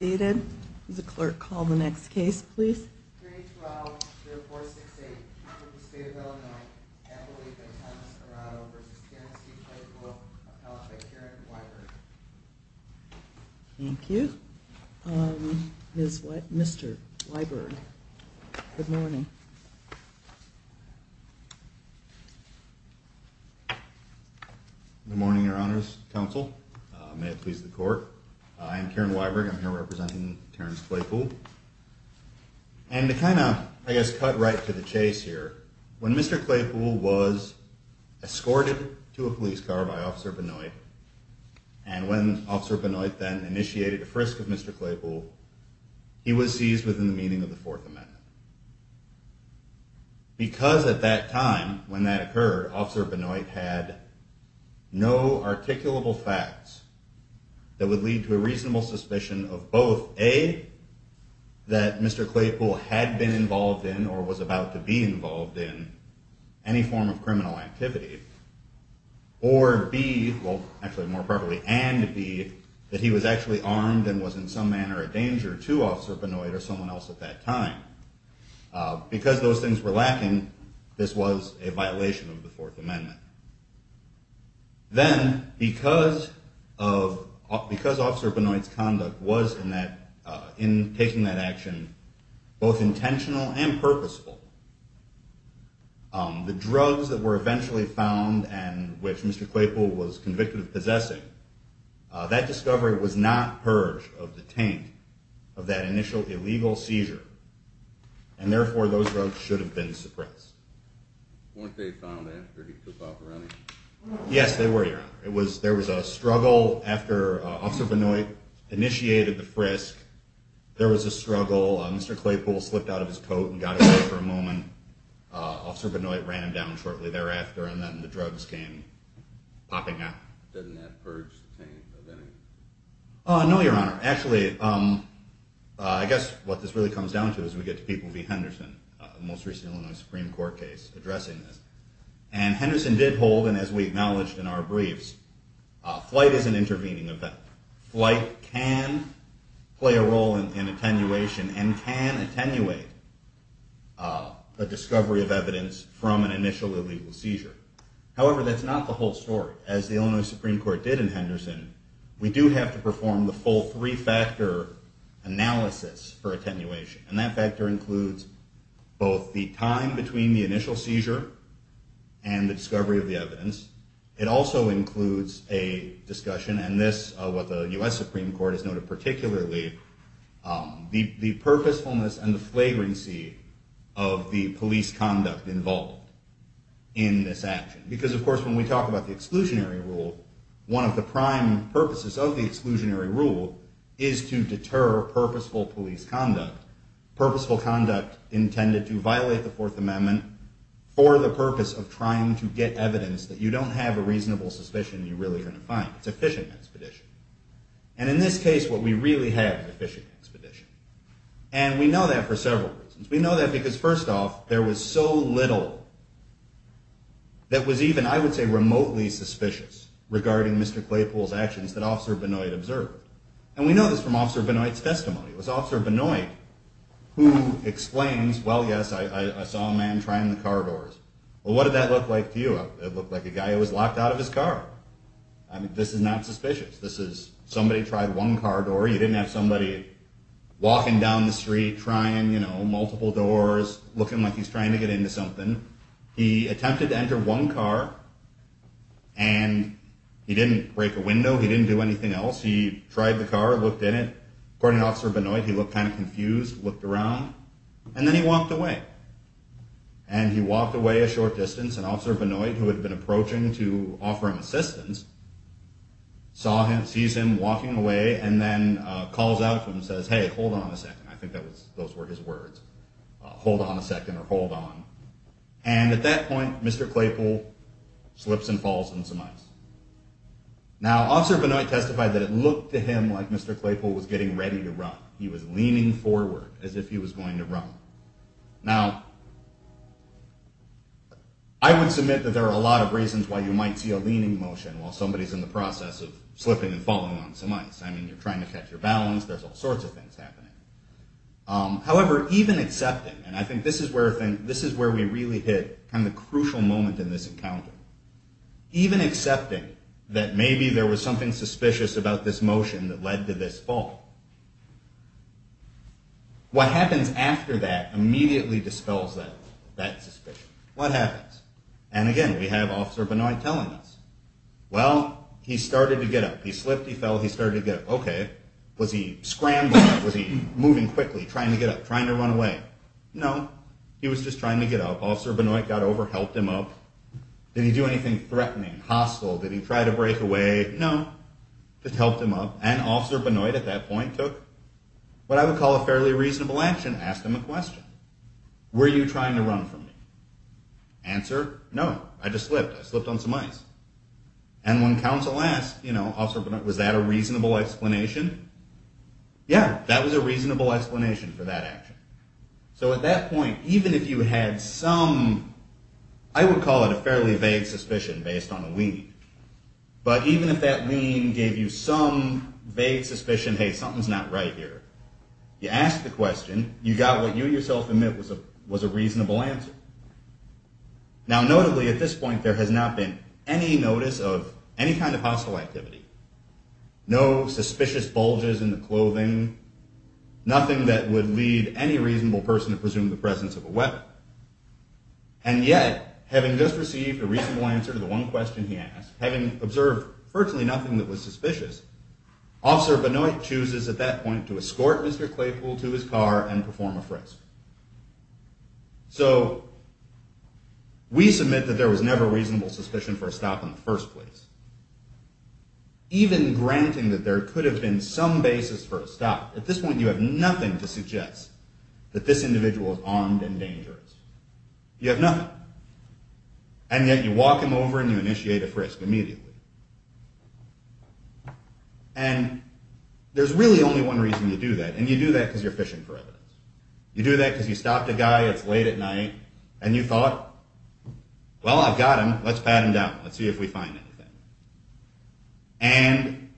The clerk called the next case please. Thank you. Is what Mr. Liber? Good morning. Good morning, Your Honor's counsel. May it please the court. I am Karen Weiberg. I'm here representing Terrence Claypool. And to kind of, I guess, cut right to the chase here, when Mr. Claypool was escorted to a police car by Officer Benoit and when Officer Benoit then initiated a frisk of Mr. Claypool, he was seized within the meaning of the Fourth Amendment. Because at that time, when that occurred, Officer Benoit had no articulable facts that would lead to a reasonable suspicion of both, A, that Mr. Claypool had been involved in or was about to be involved in any form of criminal activity, or B, well, actually more properly, and B, that he was actually armed and was in some manner a danger to Officer Benoit or someone else at that time. Because those things were lacking, this was a violation of the Fourth Amendment. Then, because Officer Benoit's conduct was, in taking that action, both intentional and purposeful, the drugs that were eventually found and which Mr. Claypool was convicted of possessing, that discovery was not purge of the taint of that initial illegal seizure. And therefore, those drugs should have been suppressed. Weren't they found after he took off running? Yes, they were, Your Honor. There was a struggle after Officer Benoit initiated the frisk. There was a struggle. Mr. Claypool slipped out of his coat and got away for a moment. Officer Benoit ran him down shortly thereafter and then the drugs came popping out. Doesn't that purge the taint of anything? No, Your Honor. Actually, I guess what this really comes down to is we get to people v. Henderson, the most recent Illinois Supreme Court case addressing this. And Henderson did hold, and as we acknowledged in our briefs, flight is an intervening event. Flight can play a role in attenuation and can attenuate a discovery of evidence from an initial illegal seizure. However, that's not the whole story. As the Illinois Supreme Court did in Henderson, we do have to perform the full three-factor analysis for attenuation. And that factor includes both the time between the initial seizure and the discovery of the evidence. It also includes a discussion, and this, what the U.S. Supreme Court has noted particularly, the purposefulness and the flagrancy of the police conduct involved in this action. Because, of course, when we talk about the exclusionary rule, one of the prime purposes of the exclusionary rule is to deter purposeful police conduct. Purposeful conduct intended to violate the Fourth Amendment for the purpose of trying to get evidence that you don't have a reasonable suspicion you're really going to find. It's a fishing expedition. And in this case, what we really have is a fishing expedition. And we know that for several reasons. We know that because, first off, there was so little that was even, I would say, remotely suspicious regarding Mr. Claypool's actions that Officer Benoit observed. And we know this from Officer Benoit's testimony. It was Officer Benoit who explains, well, yes, I saw a man trying the car doors. Well, what did that look like to you? It looked like a guy who was locked out of his car. I mean, this is not suspicious. This is somebody tried one car door. You didn't have somebody walking down the street, trying, you know, multiple doors, looking like he's trying to get into something. He attempted to enter one car, and he didn't break a window. He didn't do anything else. He tried the car, looked in it. According to Officer Benoit, he looked kind of confused, looked around, and then he walked away. And he walked away a short distance, and Officer Benoit, who had been approaching to offer him assistance, sees him walking away and then calls out to him and says, hey, hold on a second. I think those were his words. Hold on a second or hold on. And at that point, Mr. Claypool slips and falls on some ice. Now, Officer Benoit testified that it looked to him like Mr. Claypool was getting ready to run. He was leaning forward as if he was going to run. Now, I would submit that there are a lot of reasons why you might see a leaning motion while somebody's in the process of slipping and falling on some ice. I mean, you're trying to catch your balance. There's all sorts of things happening. However, even accepting, and I think this is where we really hit the crucial moment in this encounter, even accepting that maybe there was something suspicious about this motion that led to this fall, what happens after that immediately dispels that suspicion. What happens? And again, we have Officer Benoit telling us, well, he started to get up. He slipped, he fell, he started to get up. Okay, was he scrambling? Was he moving quickly, trying to get up, trying to run away? No, he was just trying to get up. Officer Benoit got over, helped him up. Did he do anything threatening, hostile? Did he try to break away? No, just helped him up. And Officer Benoit at that point took what I would call a fairly reasonable action, asked him a question. Were you trying to run from me? Answer, no, I just slipped. I slipped on some ice. And when counsel asked, you know, Officer Benoit, was that a reasonable explanation? Yeah, that was a reasonable explanation for that action. So at that point, even if you had some, I would call it a fairly vague suspicion based on a lean, but even if that lean gave you some vague suspicion, hey, something's not right here, you ask the question, you got what you yourself admit was a reasonable answer. Now, notably, at this point, there has not been any notice of any kind of hostile activity. No suspicious bulges in the clothing, nothing that would lead any reasonable person to presume the presence of a weapon. And yet, having just received a reasonable answer to the one question he asked, Officer Benoit chooses at that point to escort Mr. Claypool to his car and perform a frisk. So we submit that there was never reasonable suspicion for a stop in the first place. Even granting that there could have been some basis for a stop, at this point you have nothing to suggest that this individual is armed and dangerous. You have nothing. And yet you walk him over and you initiate a frisk immediately. And there's really only one reason you do that, and you do that because you're fishing for evidence. You do that because you stopped a guy, it's late at night, and you thought, well, I've got him, let's pat him down, let's see if we find anything. And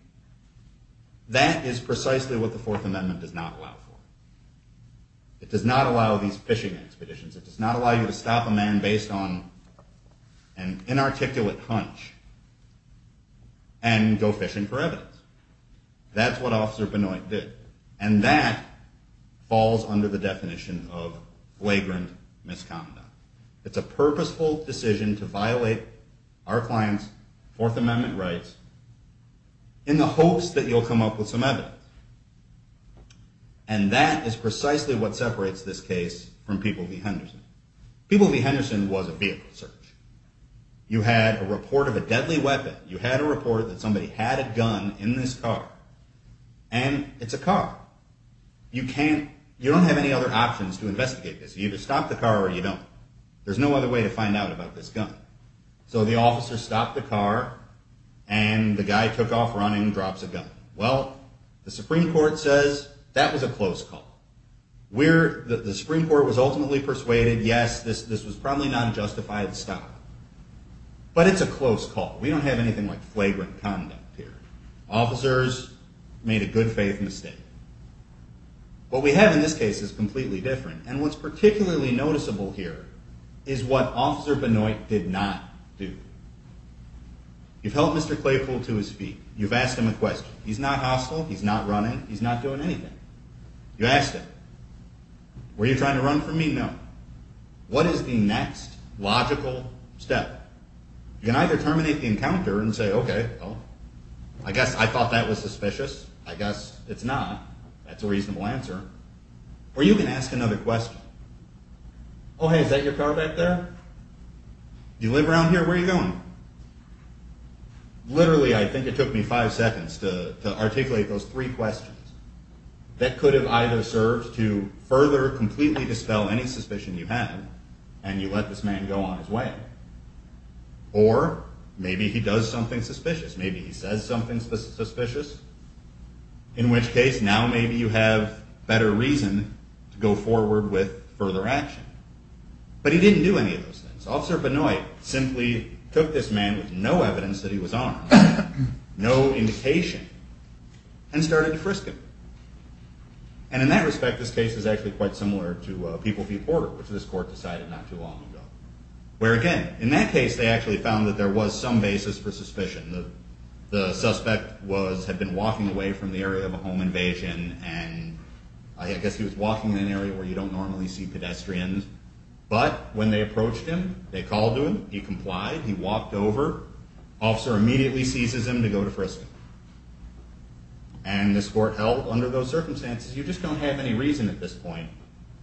that is precisely what the Fourth Amendment does not allow for. It does not allow these fishing expeditions. It does not allow you to stop a man based on an inarticulate hunch. And go fishing for evidence. That's what Officer Benoit did. And that falls under the definition of flagrant misconduct. It's a purposeful decision to violate our client's Fourth Amendment rights in the hopes that you'll come up with some evidence. And that is precisely what separates this case from People v. Henderson. People v. Henderson was a vehicle search. You had a report of a deadly weapon. You had a report that somebody had a gun in this car. And it's a car. You don't have any other options to investigate this. You either stop the car or you don't. There's no other way to find out about this gun. So the officer stopped the car, and the guy took off running, drops a gun. Well, the Supreme Court says that was a close call. The Supreme Court was ultimately persuaded, yes, this was probably not a justified stop. But it's a close call. We don't have anything like flagrant conduct here. Officers made a good faith mistake. What we have in this case is completely different. And what's particularly noticeable here is what Officer Benoit did not do. You've held Mr. Claypool to his feet. You've asked him a question. He's not hostile. He's not running. He's not doing anything. You asked him, were you trying to run from me? No. What is the next logical step? You can either terminate the encounter and say, okay, well, I guess I thought that was suspicious. I guess it's not. That's a reasonable answer. Or you can ask another question. Oh, hey, is that your car back there? Do you live around here? Where are you going? Literally, I think it took me five seconds to articulate those three questions. That could have either served to further completely dispel any suspicion you had, and you let this man go on his way. Or maybe he does something suspicious. Maybe he says something suspicious. In which case, now maybe you have better reason to go forward with further action. But he didn't do any of those things. Officer Benoit simply took this man with no evidence that he was armed, no indication, and started to frisk him. And in that respect, this case is actually quite similar to People v. Porter, which this court decided not too long ago. Where again, in that case, they actually found that there was some basis for suspicion. The suspect had been walking away from the area of a home invasion, and I guess he was walking in an area where you don't normally see pedestrians. But when they approached him, they called to him, he complied, he walked over. Officer immediately seizes him to go to frisk him. And this court held, under those circumstances, you just don't have any reason at this point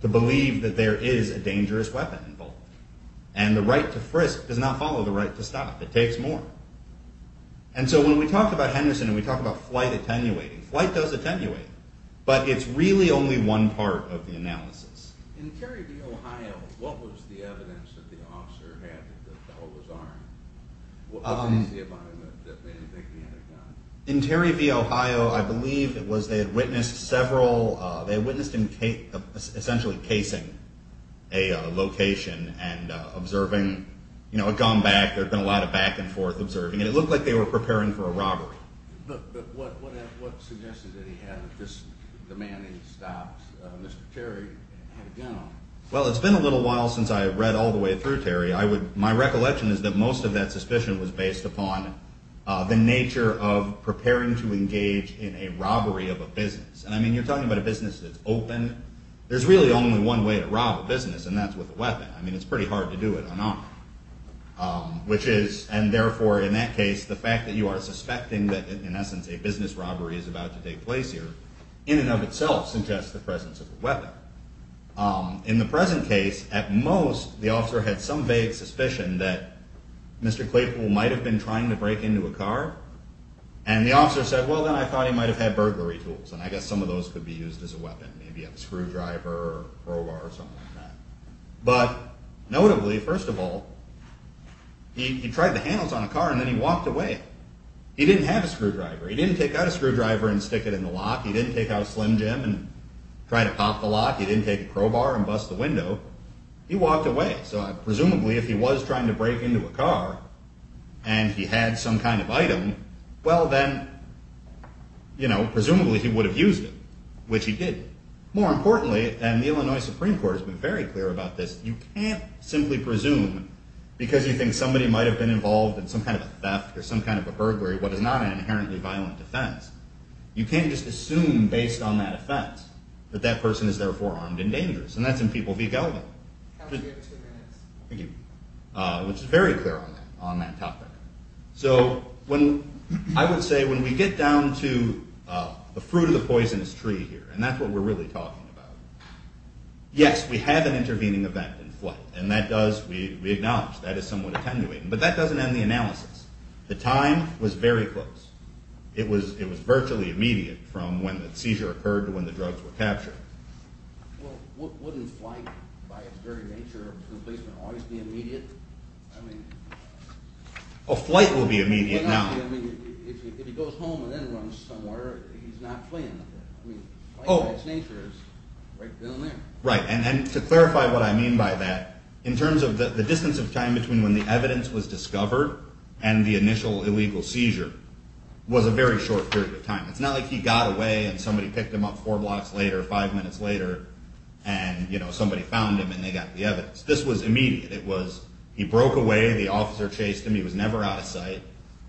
to believe that there is a dangerous weapon involved. And the right to frisk does not follow the right to stop. It takes more. And so when we talk about Henderson and we talk about flight attenuating, flight does attenuate. But it's really only one part of the analysis. In Terry v. Ohio, what was the evidence that the officer had that the fellow was armed? What was the evidence that made you think he had a gun? In Terry v. Ohio, I believe it was they had witnessed several, they had witnessed him essentially casing a location and observing, you know, a gun back. There had been a lot of back and forth observing, and it looked like they were preparing for a robbery. But what suggested that he had the man he had stopped, Mr. Terry, had a gun on? Well, it's been a little while since I read all the way through, Terry. My recollection is that most of that suspicion was based upon the nature of preparing to engage in a robbery of a business. And, I mean, you're talking about a business that's open. There's really only one way to rob a business, and that's with a weapon. I mean, it's pretty hard to do it unarmed. Which is, and therefore, in that case, the fact that you are suspecting that, in essence, a business robbery is about to take place here, in and of itself suggests the presence of a weapon. In the present case, at most, the officer had some vague suspicion that Mr. Claypool might have been trying to break into a car. And the officer said, well, then I thought he might have had burglary tools. And I guess some of those could be used as a weapon. Maybe a screwdriver or a crowbar or something like that. But, notably, first of all, he tried the handles on a car, and then he walked away. He didn't have a screwdriver. He didn't take out a screwdriver and stick it in the lock. He didn't take out a Slim Jim and try to pop the lock. He didn't take a crowbar and bust the window. He walked away. So, presumably, if he was trying to break into a car, and he had some kind of item, well, then, presumably, he would have used it. Which he didn't. More importantly, and the Illinois Supreme Court has been very clear about this, you can't simply presume, because you think somebody might have been involved in some kind of a theft or some kind of a burglary, what is not an inherently violent offense, you can't just assume, based on that offense, that that person is, therefore, armed and dangerous. And that's in People v. Gelbin. Thank you. Which is very clear on that topic. So, I would say, when we get down to the fruit of the poisonous tree here, and that's what we're really talking about, yes, we have an intervening event in flight, and that does, we acknowledge, that is somewhat attenuating, but that doesn't end the analysis. The time was very close. It was virtually immediate from when the seizure occurred to when the drugs were captured. Well, wouldn't flight, by its very nature, always be immediate? I mean... Oh, flight will be immediate, no. I mean, if he goes home and then runs somewhere, he's not fleeing. I mean, flight, by its nature, is right down there. Right, and to clarify what I mean by that, in terms of the distance of time between when the evidence was discovered and the initial illegal seizure, was a very short period of time. It's not like he got away and somebody picked him up four blocks later, five minutes later, and somebody found him and they got the evidence. This was immediate. It was, he broke away, the officer chased him, he was never out of sight,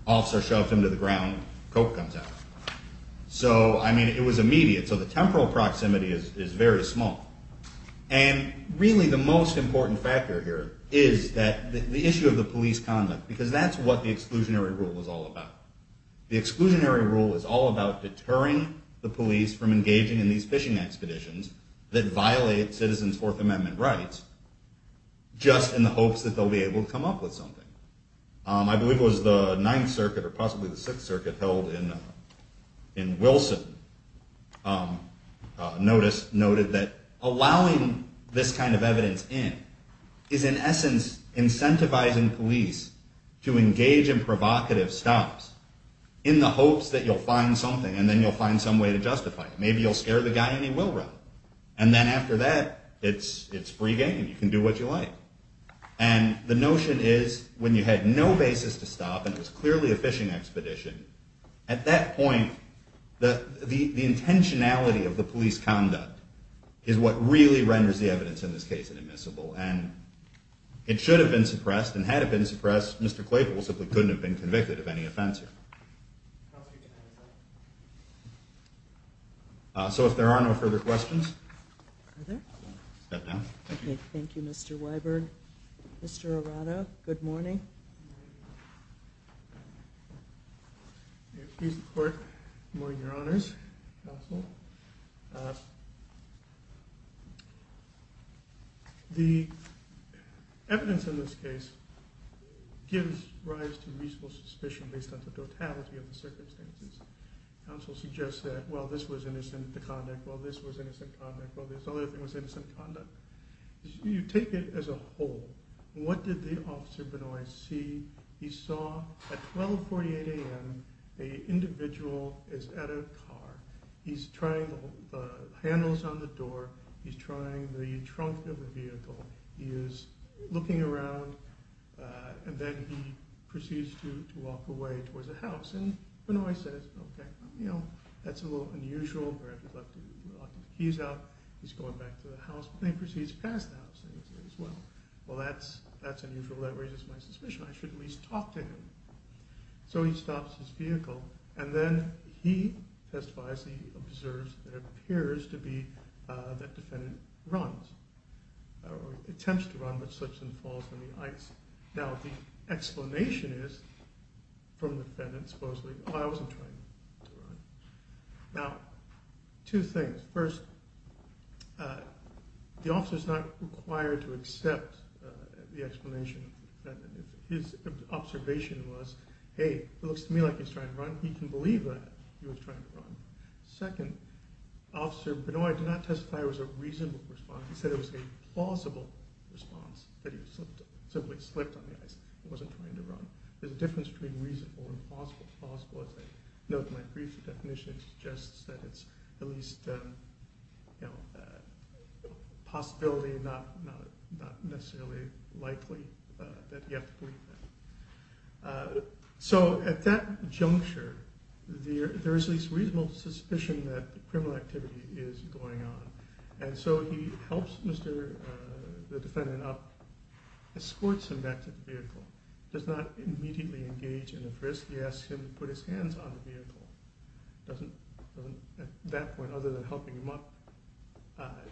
officer shoved him to the ground, coke comes out. So, I mean, it was immediate, so the temporal proximity is very small. And really, the most important factor here is that the issue of the police conduct, because that's what the exclusionary rule is all about. The exclusionary rule is all about deterring the police from engaging in these fishing expeditions that violate citizens' Fourth Amendment rights, just in the hopes that they'll be able to come up with something. I believe it was the Ninth Circuit, or possibly the Sixth Circuit, held in Wilson, noticed, noted that allowing this kind of evidence in is in essence incentivizing police to engage in provocative stops in the hopes that you'll find something and then you'll find some way to justify it. Maybe you'll scare the guy and he will run. And then after that, it's free game. You can do what you like. And the notion is, when you had no basis to stop, and it was clearly a fishing expedition, at that point, the intentionality of the police conduct is what really renders the evidence in this case inadmissible. And it should have been suppressed, and had it been suppressed, Mr. Claypool simply couldn't have been convicted of any offense here. So if there are no further questions... Are there? Step down. Okay, thank you, Mr. Weiberg. Mr. Arado, good morning. Good morning. May it please the Court, good morning, Your Honors, counsel. The evidence in this case gives rise to reasonable suspicion based on the totality of the circumstances. Counsel suggests that, well, this was innocent conduct, well, this was innocent conduct, well, this other thing was innocent conduct. You take it as a whole. What did the officer see? He saw, at 12.48 a.m., an individual is at a car. He's trying the handles on the door, he's trying the trunk of the vehicle, he is looking around, and then he proceeds to walk away towards a house. And Bernoulli says, okay, you know, that's a little unusual, perhaps he's locked the keys out, he's going back to the house, but then he proceeds past the house, and he says, well, that's unusual, that raises my suspicion, I should at least talk to him. So he stops his vehicle, and then he testifies, he observes that it appears to be that the defendant runs, or attempts to run, but slips and falls on the ice. Now, the explanation is, from the defendant, supposedly, oh, I wasn't trying to run. Now, two things. First, the officer's not required to accept the explanation of the defendant. His observation was, hey, it looks to me like he's trying to run, he can believe that he was trying to run. Second, Officer Bernoulli did not testify it was a reasonable response, he said it was a plausible response that he simply slipped on the ice and wasn't trying to run. There's a difference between reasonable and plausible. As I note in my brief, the definition suggests that it's at least a possibility, not necessarily likely that you have to believe that. So, at that juncture, there is at least reasonable suspicion that criminal activity is going on, and so he helps the defendant up, escorts him back to the vehicle, does not immediately engage in a frisk. He asks him to put his hands on the vehicle. Doesn't, at that point, other than helping him up,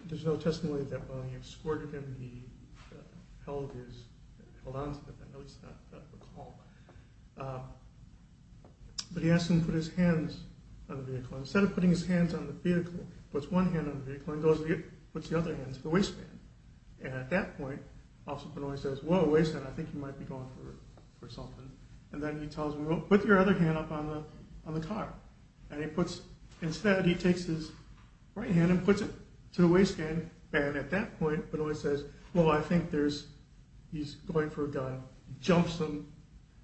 there's no testimony that while he escorted him, he held on to the vehicle, at least not the call. But he asks him to put his hands on the vehicle. Instead of putting his hands on the vehicle, he puts one hand on the vehicle and goes and puts the other hand to the waistband. And at that point, Officer Benoist says, whoa, waistband, I think you might be going for something. And then he tells him, well, put your other hand up on the car. Instead, he takes his right hand and puts it to the waistband, and at that point, Benoist says, well, I think he's going for a gun, jumps him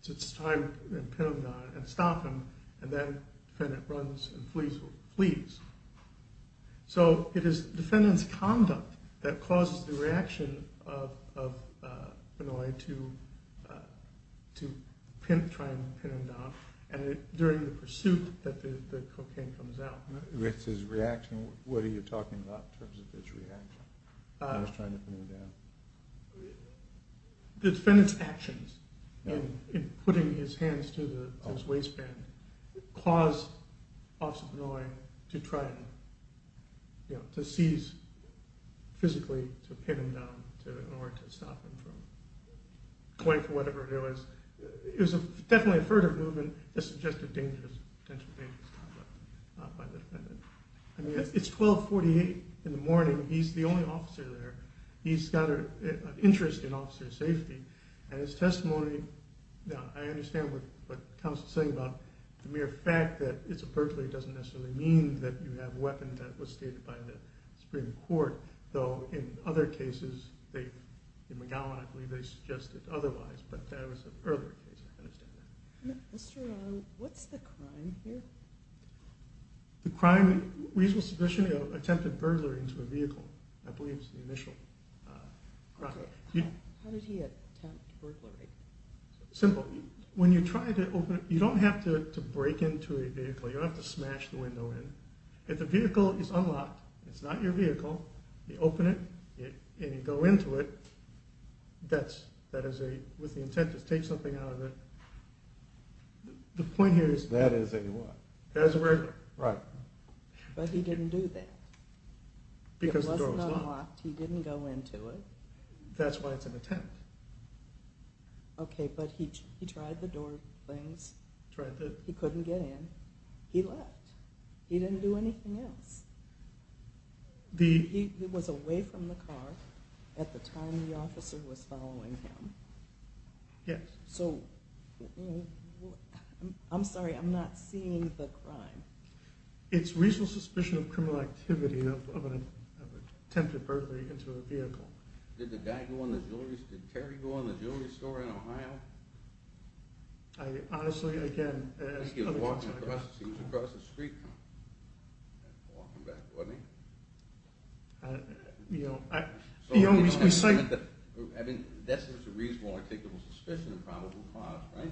to try and pin him down and stop him, so it is defendant's conduct that causes the reaction of Benoist to try and pin him down during the pursuit that the cocaine comes out. With his reaction, what are you talking about in terms of his reaction when he's trying to pin him down? The defendant's actions in putting his hands to his waistband caused Officer Benoist to try to seize, physically, to pin him down in order to stop him from going for whatever it is. It was definitely a furtive movement that suggested potential dangers by the defendant. It's 1248 in the morning. He's the only officer there. He's got an interest in officer safety, and his testimony, I understand what the counsel is saying about the mere fact that it doesn't necessarily mean that you have a weapon that was stated by the Supreme Court, though in other cases, in McGowan, I believe, they suggested otherwise, but that was an earlier case. I understand that. What's the crime here? The crime, reasonable suspicion of attempted burglary into a vehicle, I believe is the initial crime. How did he attempt burglary? Simple. He tried to go in. If the vehicle is unlocked, it's not your vehicle, you open it, and you go into it, that is with the intent to take something out of it. That is a what? Right. But he didn't do that. It wasn't unlocked. He didn't go into it. That's why it's an attempt. Okay, but he tried the door things. He couldn't get in. He didn't do anything else. He was away from the car at the time the officer was following him. Yes. I'm sorry, I'm not seeing the crime. It's reasonable suspicion of criminal activity of attempted burglary into a vehicle. Did Terry go in the jewelry store in Ohio? Honestly, again, I think he was walking across the street, walking back toward me. You know, we cited... I mean, that's a reasonable suspicion of probable cause, right?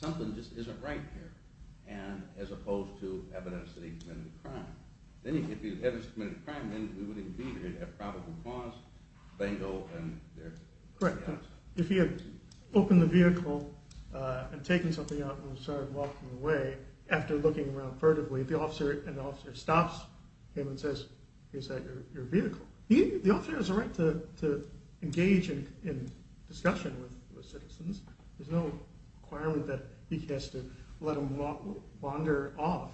Something just isn't right here, as opposed to evidence that he committed a crime. If he had committed a crime, then we wouldn't be here to have probable cause. If he had opened the vehicle and started walking away, after looking around furtively, the officer stops him and says, is that your vehicle? The officer has a right to engage in discussion with citizens. There's no requirement that he has to let him wander off.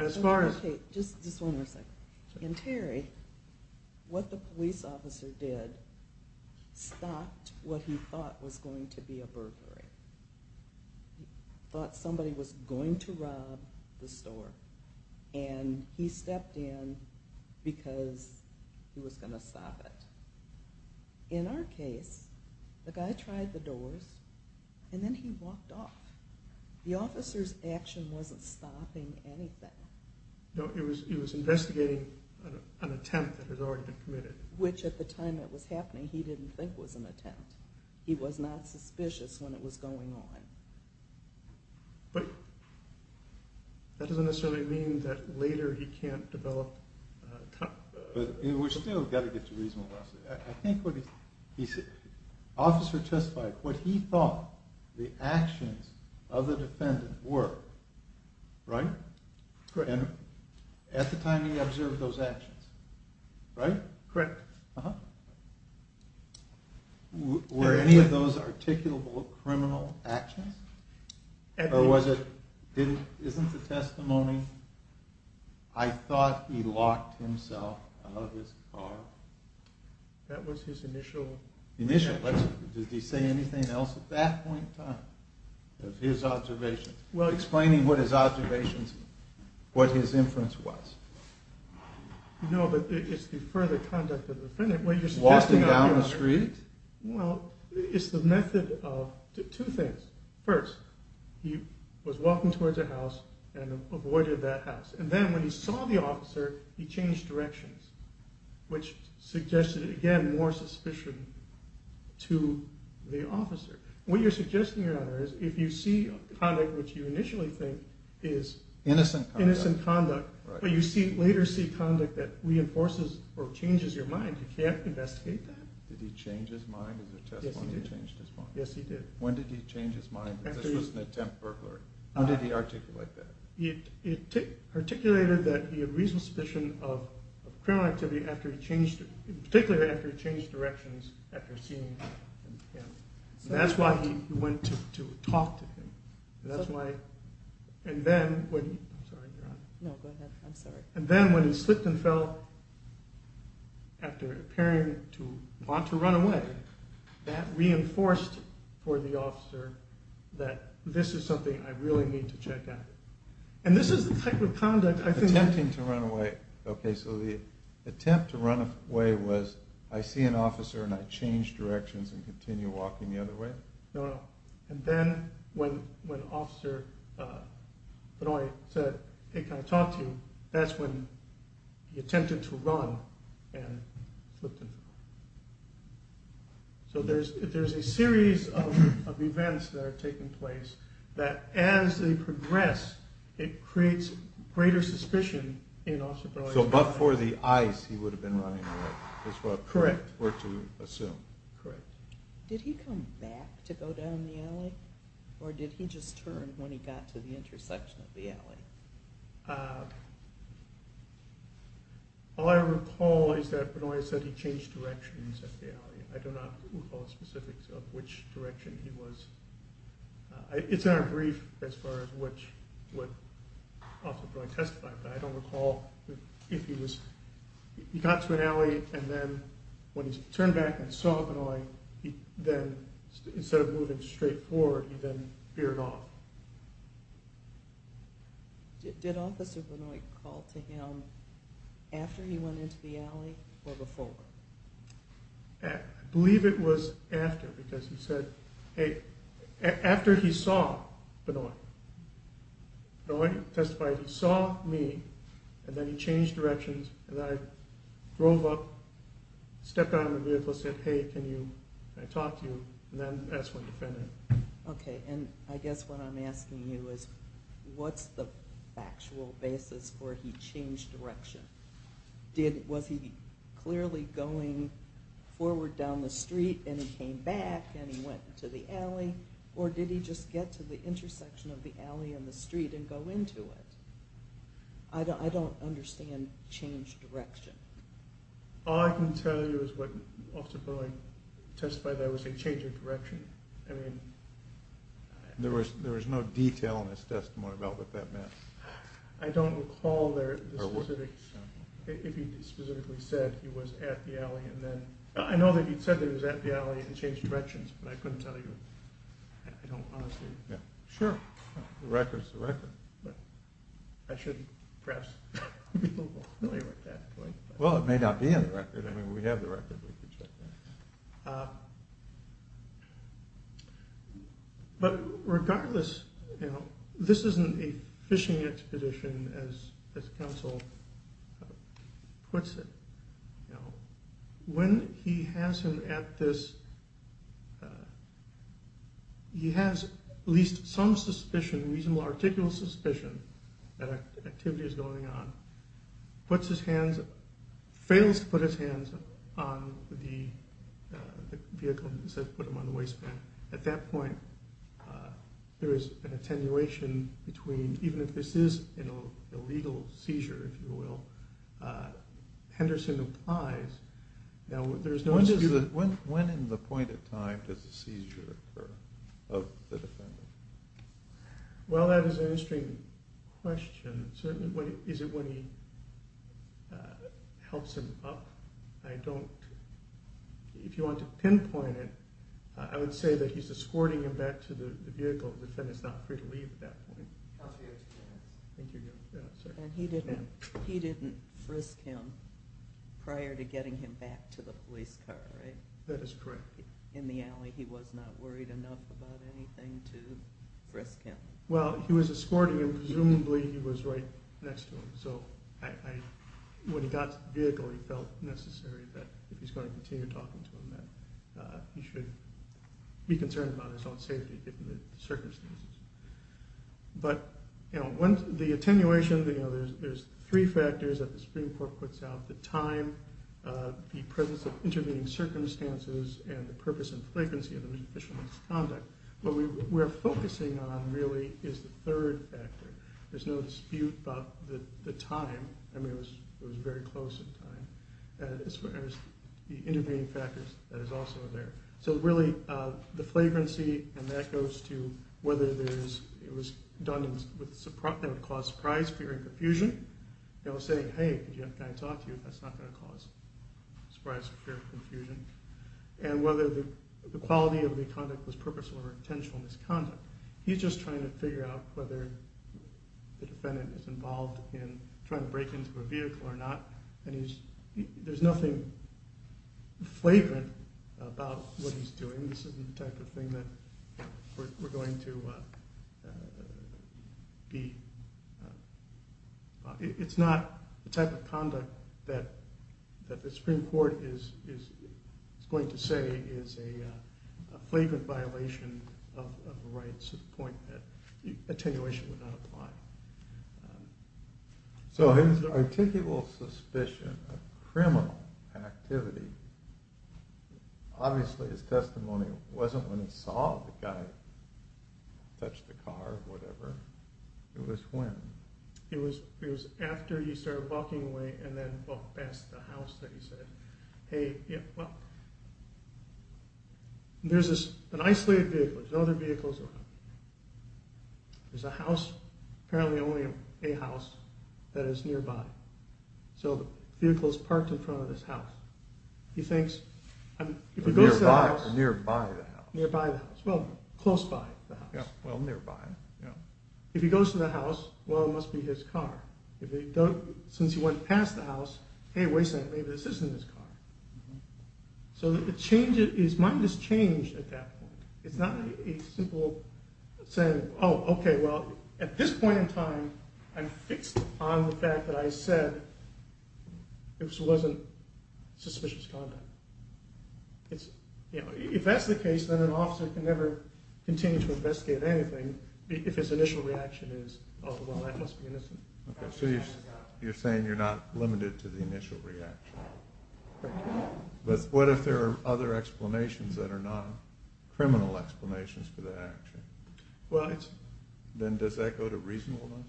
Okay, just one more second. In Terry, what the police officer did stopped what he thought was going to be a burglary. He thought somebody was going to rob the store, and he stepped in because he was going to stop it. In our case, the guy tried the doors, and then he walked off. The officer's action wasn't stopping anything. No, he was investigating an attempt that had already been committed. Which, at the time it was happening, he didn't think was an attempt. He was not suspicious when it was going on. But, that doesn't necessarily mean that later he can't develop... But, we've still got to get to reasonableness. I think what he said, the officer testified what he thought the actions of the defendant were. Right? Correct. At the time he observed those actions. Right? Correct. Were any of those articulable criminal actions? Or was it... Isn't the testimony I thought he locked himself out of his car? That was his initial... Initial. Did he say anything else at that point in time? Of his observations? Explaining what his observations, what his inference was. No, but it's the further conduct of the defendant. Walking down the street? Well, it's the method of two things. First, he was walking towards a house and avoided that house. And then when he saw the officer, he changed directions. Which suggested, again, more suspicion to the officer. What you're suggesting, Your Honor, is if you see conduct which you initially think is... Innocent conduct. Innocent conduct. But you see, later see conduct that reinforces or changes your mind. You can't investigate that. Did he change his mind? Is there testimony he changed his mind? Yes, he did. When did he change his mind? Was this an attempt burglary? When did he articulate that? He articulated that he had reasonable suspicion of criminal activity after he changed, particularly after he changed directions after seeing him. That's why he went to talk to him. That's why... And then, I'm sorry, Your Honor. No, go ahead. I'm sorry. And then when he slipped and fell after appearing to want to run away, that reinforced for the officer that this is something I really need to check out. And this is the type of conduct I think... Attempting to run away. Okay, so the attempt to run away was I see an officer and I change directions and continue walking the other way? No, no. And then when officer Benoit said, hey, can I talk to you? That's when he attempted to run and slipped and fell. So there's a series of events that are taking place that as they progress it creates greater suspicion in officer Benoit. So, but for the eyes he would have been running away. Correct. Is what we're to assume. Correct. Did he come back to go down the alley? Or did he just turn when he got to the intersection of the alley? All I recall is that Benoit said he changed directions at the alley. I do not recall the specifics of which direction he was... It's not a brief as far as which what officer Benoit testified. But I don't recall if he was... He got to an alley and then when he turned back and saw Benoit he then instead of moving straight forward he then veered off. Did officer Benoit call to him after he went into the alley or before? I believe it was after because he said hey, after he saw Benoit Benoit testified he saw me and then he changed directions and I drove up stepped out of the vehicle said hey can you can I talk to you and then asked for a defender. Okay, and I guess what I'm asking you is what's the factual basis for he changed direction? Was he clearly going forward down the street and he came back and he went into the alley or did he just get to the intersection of the alley and the street I don't understand changed direction. All I can tell you is what officer Benoit testified that was a change of direction. There was no detail in his testimony about what that meant. I don't recall if he specifically said he was at the alley and then I know that he said he was at the alley and changed directions but I couldn't tell you I don't honestly Sure. The record's the record. I shouldn't perhaps Well it may not be in the record I mean we have the record we can check that. But regardless you know this isn't a fishing expedition as counsel puts it. When he has him at this he has at least some suspicion reasonable articulate suspicion that activity is going on puts his hands fails to put his hands on the vehicle and says put them on the waistband. At that point there is an attenuation between even if this is you know a legal seizure if you will Henderson applies now there's no When in the point of time does the seizure occur of the defendant? Well that is an interesting question certainly is it when he helps him up I don't if you want to pinpoint it I would say that he's escorting him back to the vehicle the defendant is not free to leave at that point. And he didn't he didn't frisk him prior to getting him back to the police car right? That is correct. In the alley he was not worried enough about anything to frisk him. Well he was escorting him presumably he was right next to him so when he got to the vehicle he felt necessary that if he's going to continue talking to him that he should be concerned about his own safety given the circumstances. But the attenuation there's three factors that the Supreme Court puts out the time the presence of intervening circumstances and the purpose and frequency of the official conduct what we're focusing on really is the third factor. There's no dispute about the time I mean it was very close in time as far as the intervening factors that is also there. So really the flagrancy and that goes to whether it was done that would cause surprise, fear and confusion saying hey can I talk to you that's not going to cause surprise, fear and confusion and whether the quality of the conduct was purposeful or intentional misconduct. He's just trying to figure out whether the defendant is involved in trying to break into a vehicle or not and there's nothing flagrant about what trying to do. I think that conduct that the Supreme Court is going to say is a flagrant violation of the rights at the point that attenuation would not apply. So his articulable suspicion of criminal activity obviously his testimony wasn't when he saw the guy touch the car or whatever. It was when? It was after he started walking away and then walked past the house that he said, hey, well, there's an isolated vehicle, there's no other vehicles around. There's a house, apparently only a house that is nearby. So the vehicle is close by. Well, nearby. If he goes to the house, well, it must be his car. Since he went past the house, hey, maybe this isn't his car. So his mind has changed at that point. It's not a simple saying, oh, okay, at this point in time, I'm not going to investigate anything. If his initial reaction is, oh, well, that must be innocent. Okay, so you're saying you're not limited to the initial reaction. But what if there are other explanations that are not criminal explanations for that action? Well, it's... Then does that go to reasonableness?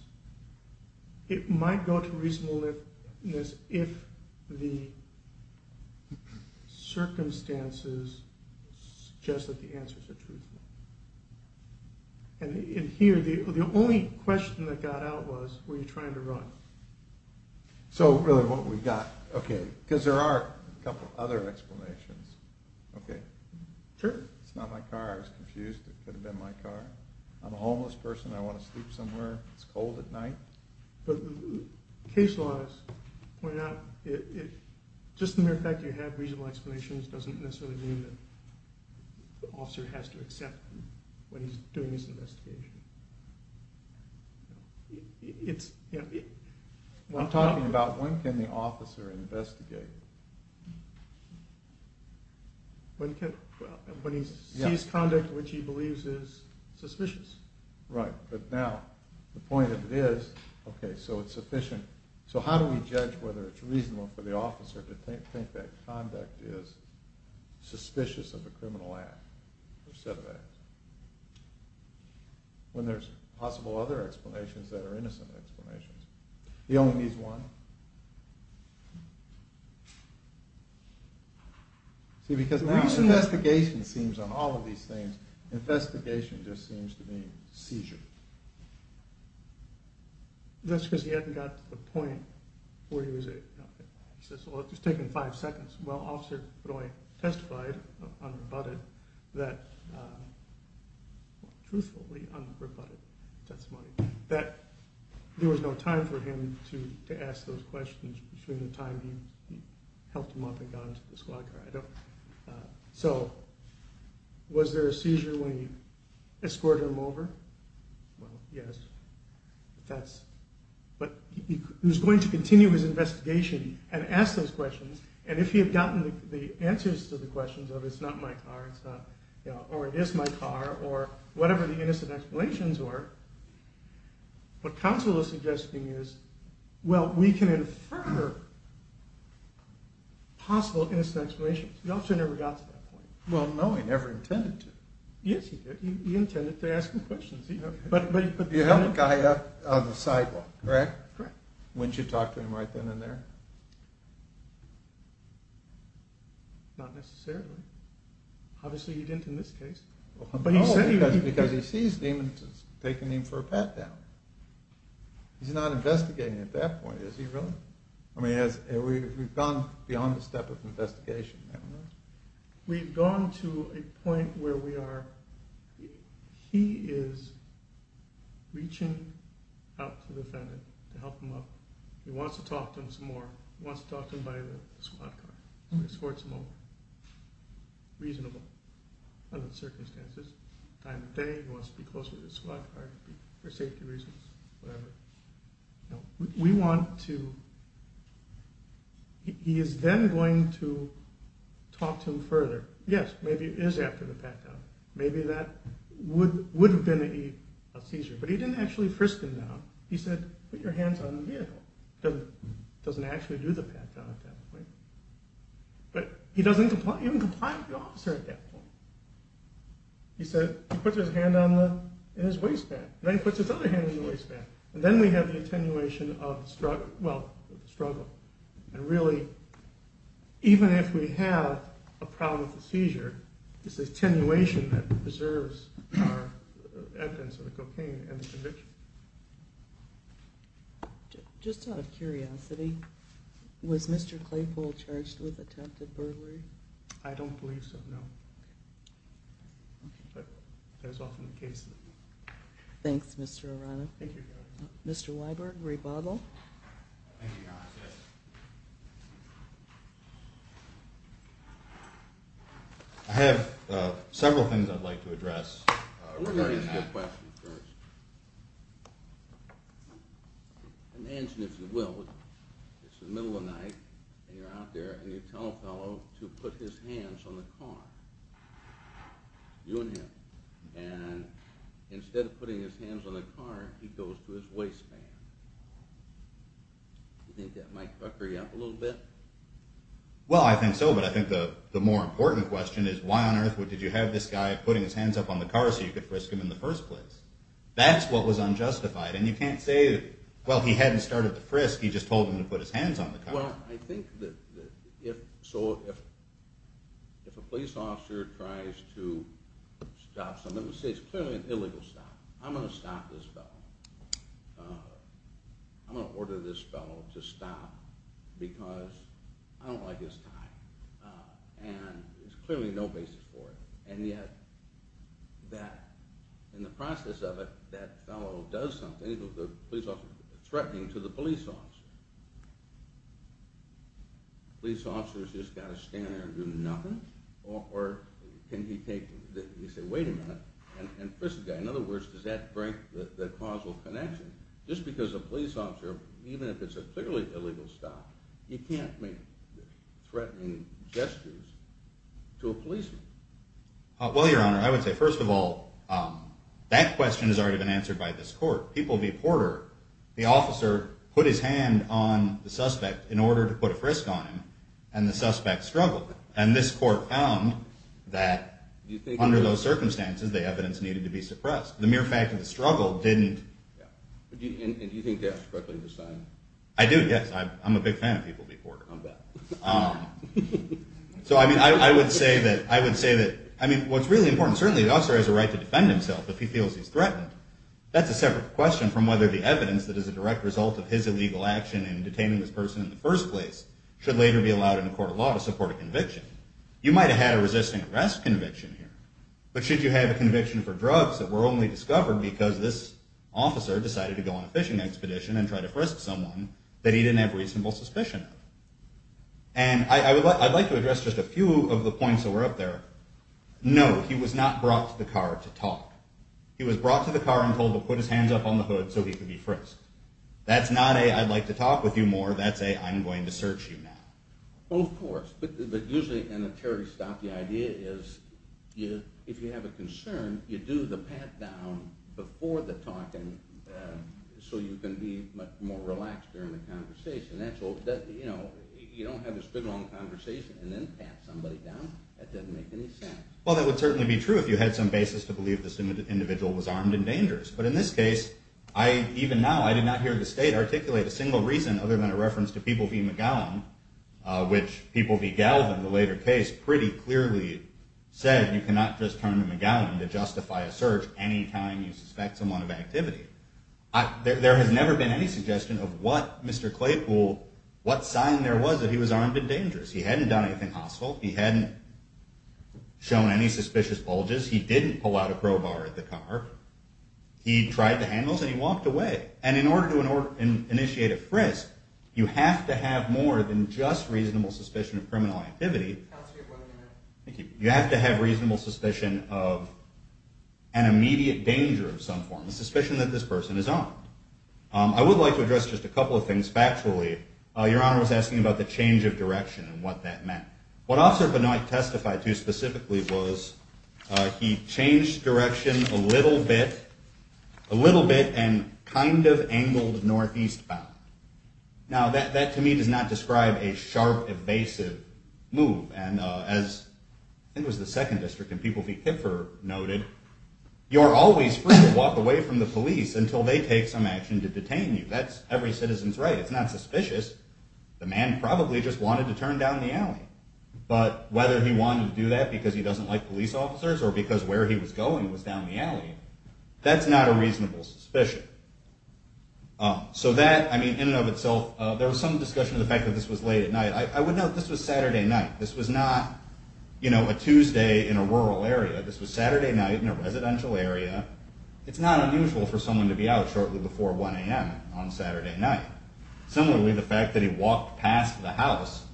It might go to reasonableness if the circumstances suggest that the answers are truthful. And here, question that got out was, were you trying to run? So, really, what we got, okay, because there are a couple other explanations. Okay. Sure. It's not my car. I was confused. It could have been my car. I'm a homeless person. I want to sleep somewhere. It's cold at night. But the case law has pointed out, just the mere fact you have reasonable explanations doesn't necessarily mean that the officer has to accept them when he's doing his investigation. I'm talking about when can the officer investigate? When he sees conduct which he believes is suspicious. Right. But now, the point of it is, okay, so it's sufficient. So how do we judge whether it's suspicious of a criminal act or set of acts when there's possible other explanations that are innocent explanations? He only needs one. See, because now his investigation seems on all of these things, investigation just seems to be seizure. That's because he hadn't got to the point where he was, he says, well, it's taking five seconds. Well, officer testified that truthfully there was no time for him to ask those questions between the time he helped him up and got into the squad car. So, was there a seizure when he escorted him over? Well, yes. But he was going to ask those questions, and if he had gotten the answers to the questions of it's not my car, it's not, or it is my car, or whatever the innocent explanations what counsel was suggesting is, well, we can infer possible innocent explanations. The officer never got to that point. Well, no, he never got to that point. Not necessarily. Obviously, he didn't in this case. No, because he seized him and taken him for a pat-down. He's not investigating at that point, is he really? I mean, we've gone beyond the step of investigation. We've gone to a point where we are, he is reaching out to him, he wants to talk to him by the squad car, escort him over, reasonable circumstances, time of day, he wants to be close to the squad car for safety reasons, whatever. We want to, he is then going to talk to him further. Yes, maybe it is after the pat-down. Maybe that would have been a seizure, but he didn't actually frisk him down. He said, put your hands on the vehicle. He doesn't actually do the pat-down at that point, but he doesn't even comply with the officer at that point. He puts his hand in his waistband, then he puts his other hand in the waistband. And then we have the attenuation of the struggle. And really, even if we have a problem with the seizure, it's the attenuation that preserves our evidence of the cocaine and the conviction. Just out of curiosity, was Mr. Claypool charged with attempted burglary? I don't believe so, no. But that's often the case. Mr. Weiberg, rebuttal. I have several things I'd like to address regarding that. Let me answer your question first. Imagine, if you will, it's the middle of night, and you're out there and you tell a fellow to put his hands on the car, you and him. And instead of putting his hands on the car, he goes to his waistband. You think that might fucker you up a little bit? Well, I think so, but I think the more important question is, why on earth did you have this guy putting his hands up on the car so you could frisk him in the first place? I'm going to stop this fellow. I'm going to order this fellow to stop because I don't like his tie, and there's clearly no basis for it. And yet, in the process of it, that fellow does something, threatening to the police officer. The police officer threatening to the police officer. In other words, does that break the causal connection? Just because a police officer, even if it's a clearly illegal stop, you can't make threatening gestures to a policeman. Well, your Honor, I would say, first of all, that question has already been answered by this court. People v. Porter, the officer put his hand on the suspect in order to put a frisk on him, and the suspect struggled. And this court found that under those circumstances, the evidence needed to determine whether the evidence that is a direct result of his illegal action in detaining this person in the first place should later be allowed in a court of law to support a conviction. You might have had a resisting arrest conviction here, but should you have a conviction for drugs that were only discovered because this officer decided to go on a fishing expedition and try to frisk someone that he didn't have reasonable suspicion of? And I'd like to address just a few of the points that were up there. No, he was not brought to the car to talk. He was not brought car to talk. You do the pat down before the talking so you can be much more relaxed during the conversation. You don't have this good long conversation and then pat somebody down. That doesn't make any sense. Well, that would certainly be true if you had some evidence that this individual was armed and dangerous. But in this case, even now, I did not hear the state articulate a single reason other than a reference to People v. McGowan, which People v. Galvin, the later case, pretty clearly said you cannot just turn to McGowan to justify a search any time you suspect someone of activity. There has never been any suggestion of what Mr. Claypool, what sign there was that he was armed and dangerous. He hadn't done anything hostile. He hadn't shown any suspicious bulges. He didn't pull out a crowbar at the car. He tried the handles and he walked away. And in order to justify the danger of some form, the suspicion that this person is armed, I would like to address just a couple of things factually. Your Honor was asking about the change of direction and what that meant. What Officer Benoit testified to specifically was he changed direction a little bit and kind of angled northeast bound. Now that to me does not describe a sharp evasive move. And as I think it was the Second District noted, you're always free to walk away from the police until they take some action to detain you. That's every citizen's right. It's not suspicious. The man probably just wanted to turn down the alley. But whether he wanted to do that because he doesn't like police officers or because where he was going was down the alley, that's not a suspicion. So that, in and of itself, there was some discussion of the fact that this was late at night. I would note this was Saturday night. This was not, you know, a Tuesday in a rural area. This was Saturday night in a residential area. It's not unusual for someone to be out shortly before 1 a.m. on Saturday night. Similarly, the fact that he walked past the house,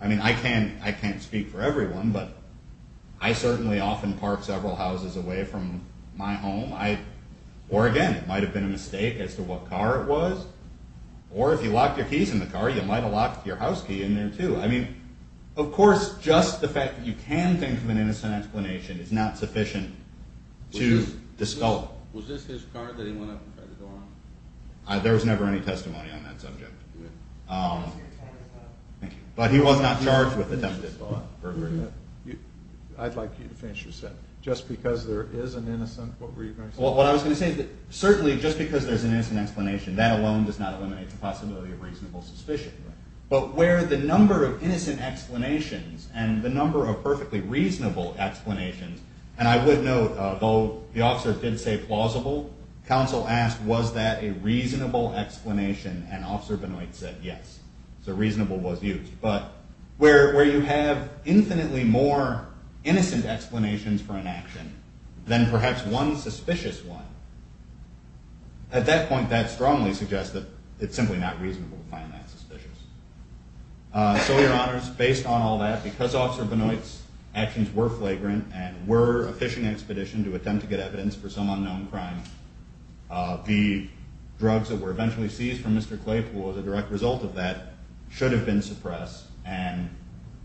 I mean, I can't speak for everyone, but I certainly often park several houses away from my home. Or, again, it might have been a mistake as to what car it was. Or, if you locked your keys in the car, you might have locked your house key in there, too. I mean, of course, just the fact that you can think of an innocent explanation is not sufficient to discuss it. There was never any testimony on that subject. But he was not charged with attempted fraud. I'd like you to finish your sentence. Just because there is an innocent, what were you going to say? Well, what I was going to say is that certainly, just because there's an innocent explanation, that alone does not eliminate the possibility of reasonable suspicion. But where the number of innocent explanations and the number of perfectly reasonable explanations, and I would note, though the officer did say plausible, counsel asked, was that a reasonable explanation? And Officer Benoit said yes. So reasonable was used. But where you have infinitely more innocent explanations for an action than perhaps one suspicious one, at that point, that strongly suggests that it's simply not reasonable to find that suspicious. So, your honors, based on all that, because Officer Benoit's actions were flagrant and were a fishing expedition to attempt to get evidence for some unknown crime, the drugs that were eventually seized from Mr. Claypool as a direct result of that should have been suppressed, and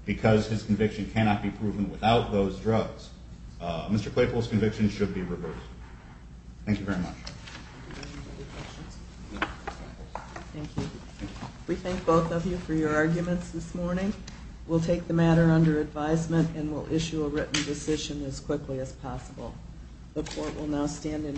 because his conviction cannot be proven without those drugs, Mr. Claypool's conviction should be reversed. Thank you very much. Thank you. We thank both of you for your arguments this morning. We'll take the matter under advisement and we'll issue a written decision as quickly as possible. The court will now stand in Claypool.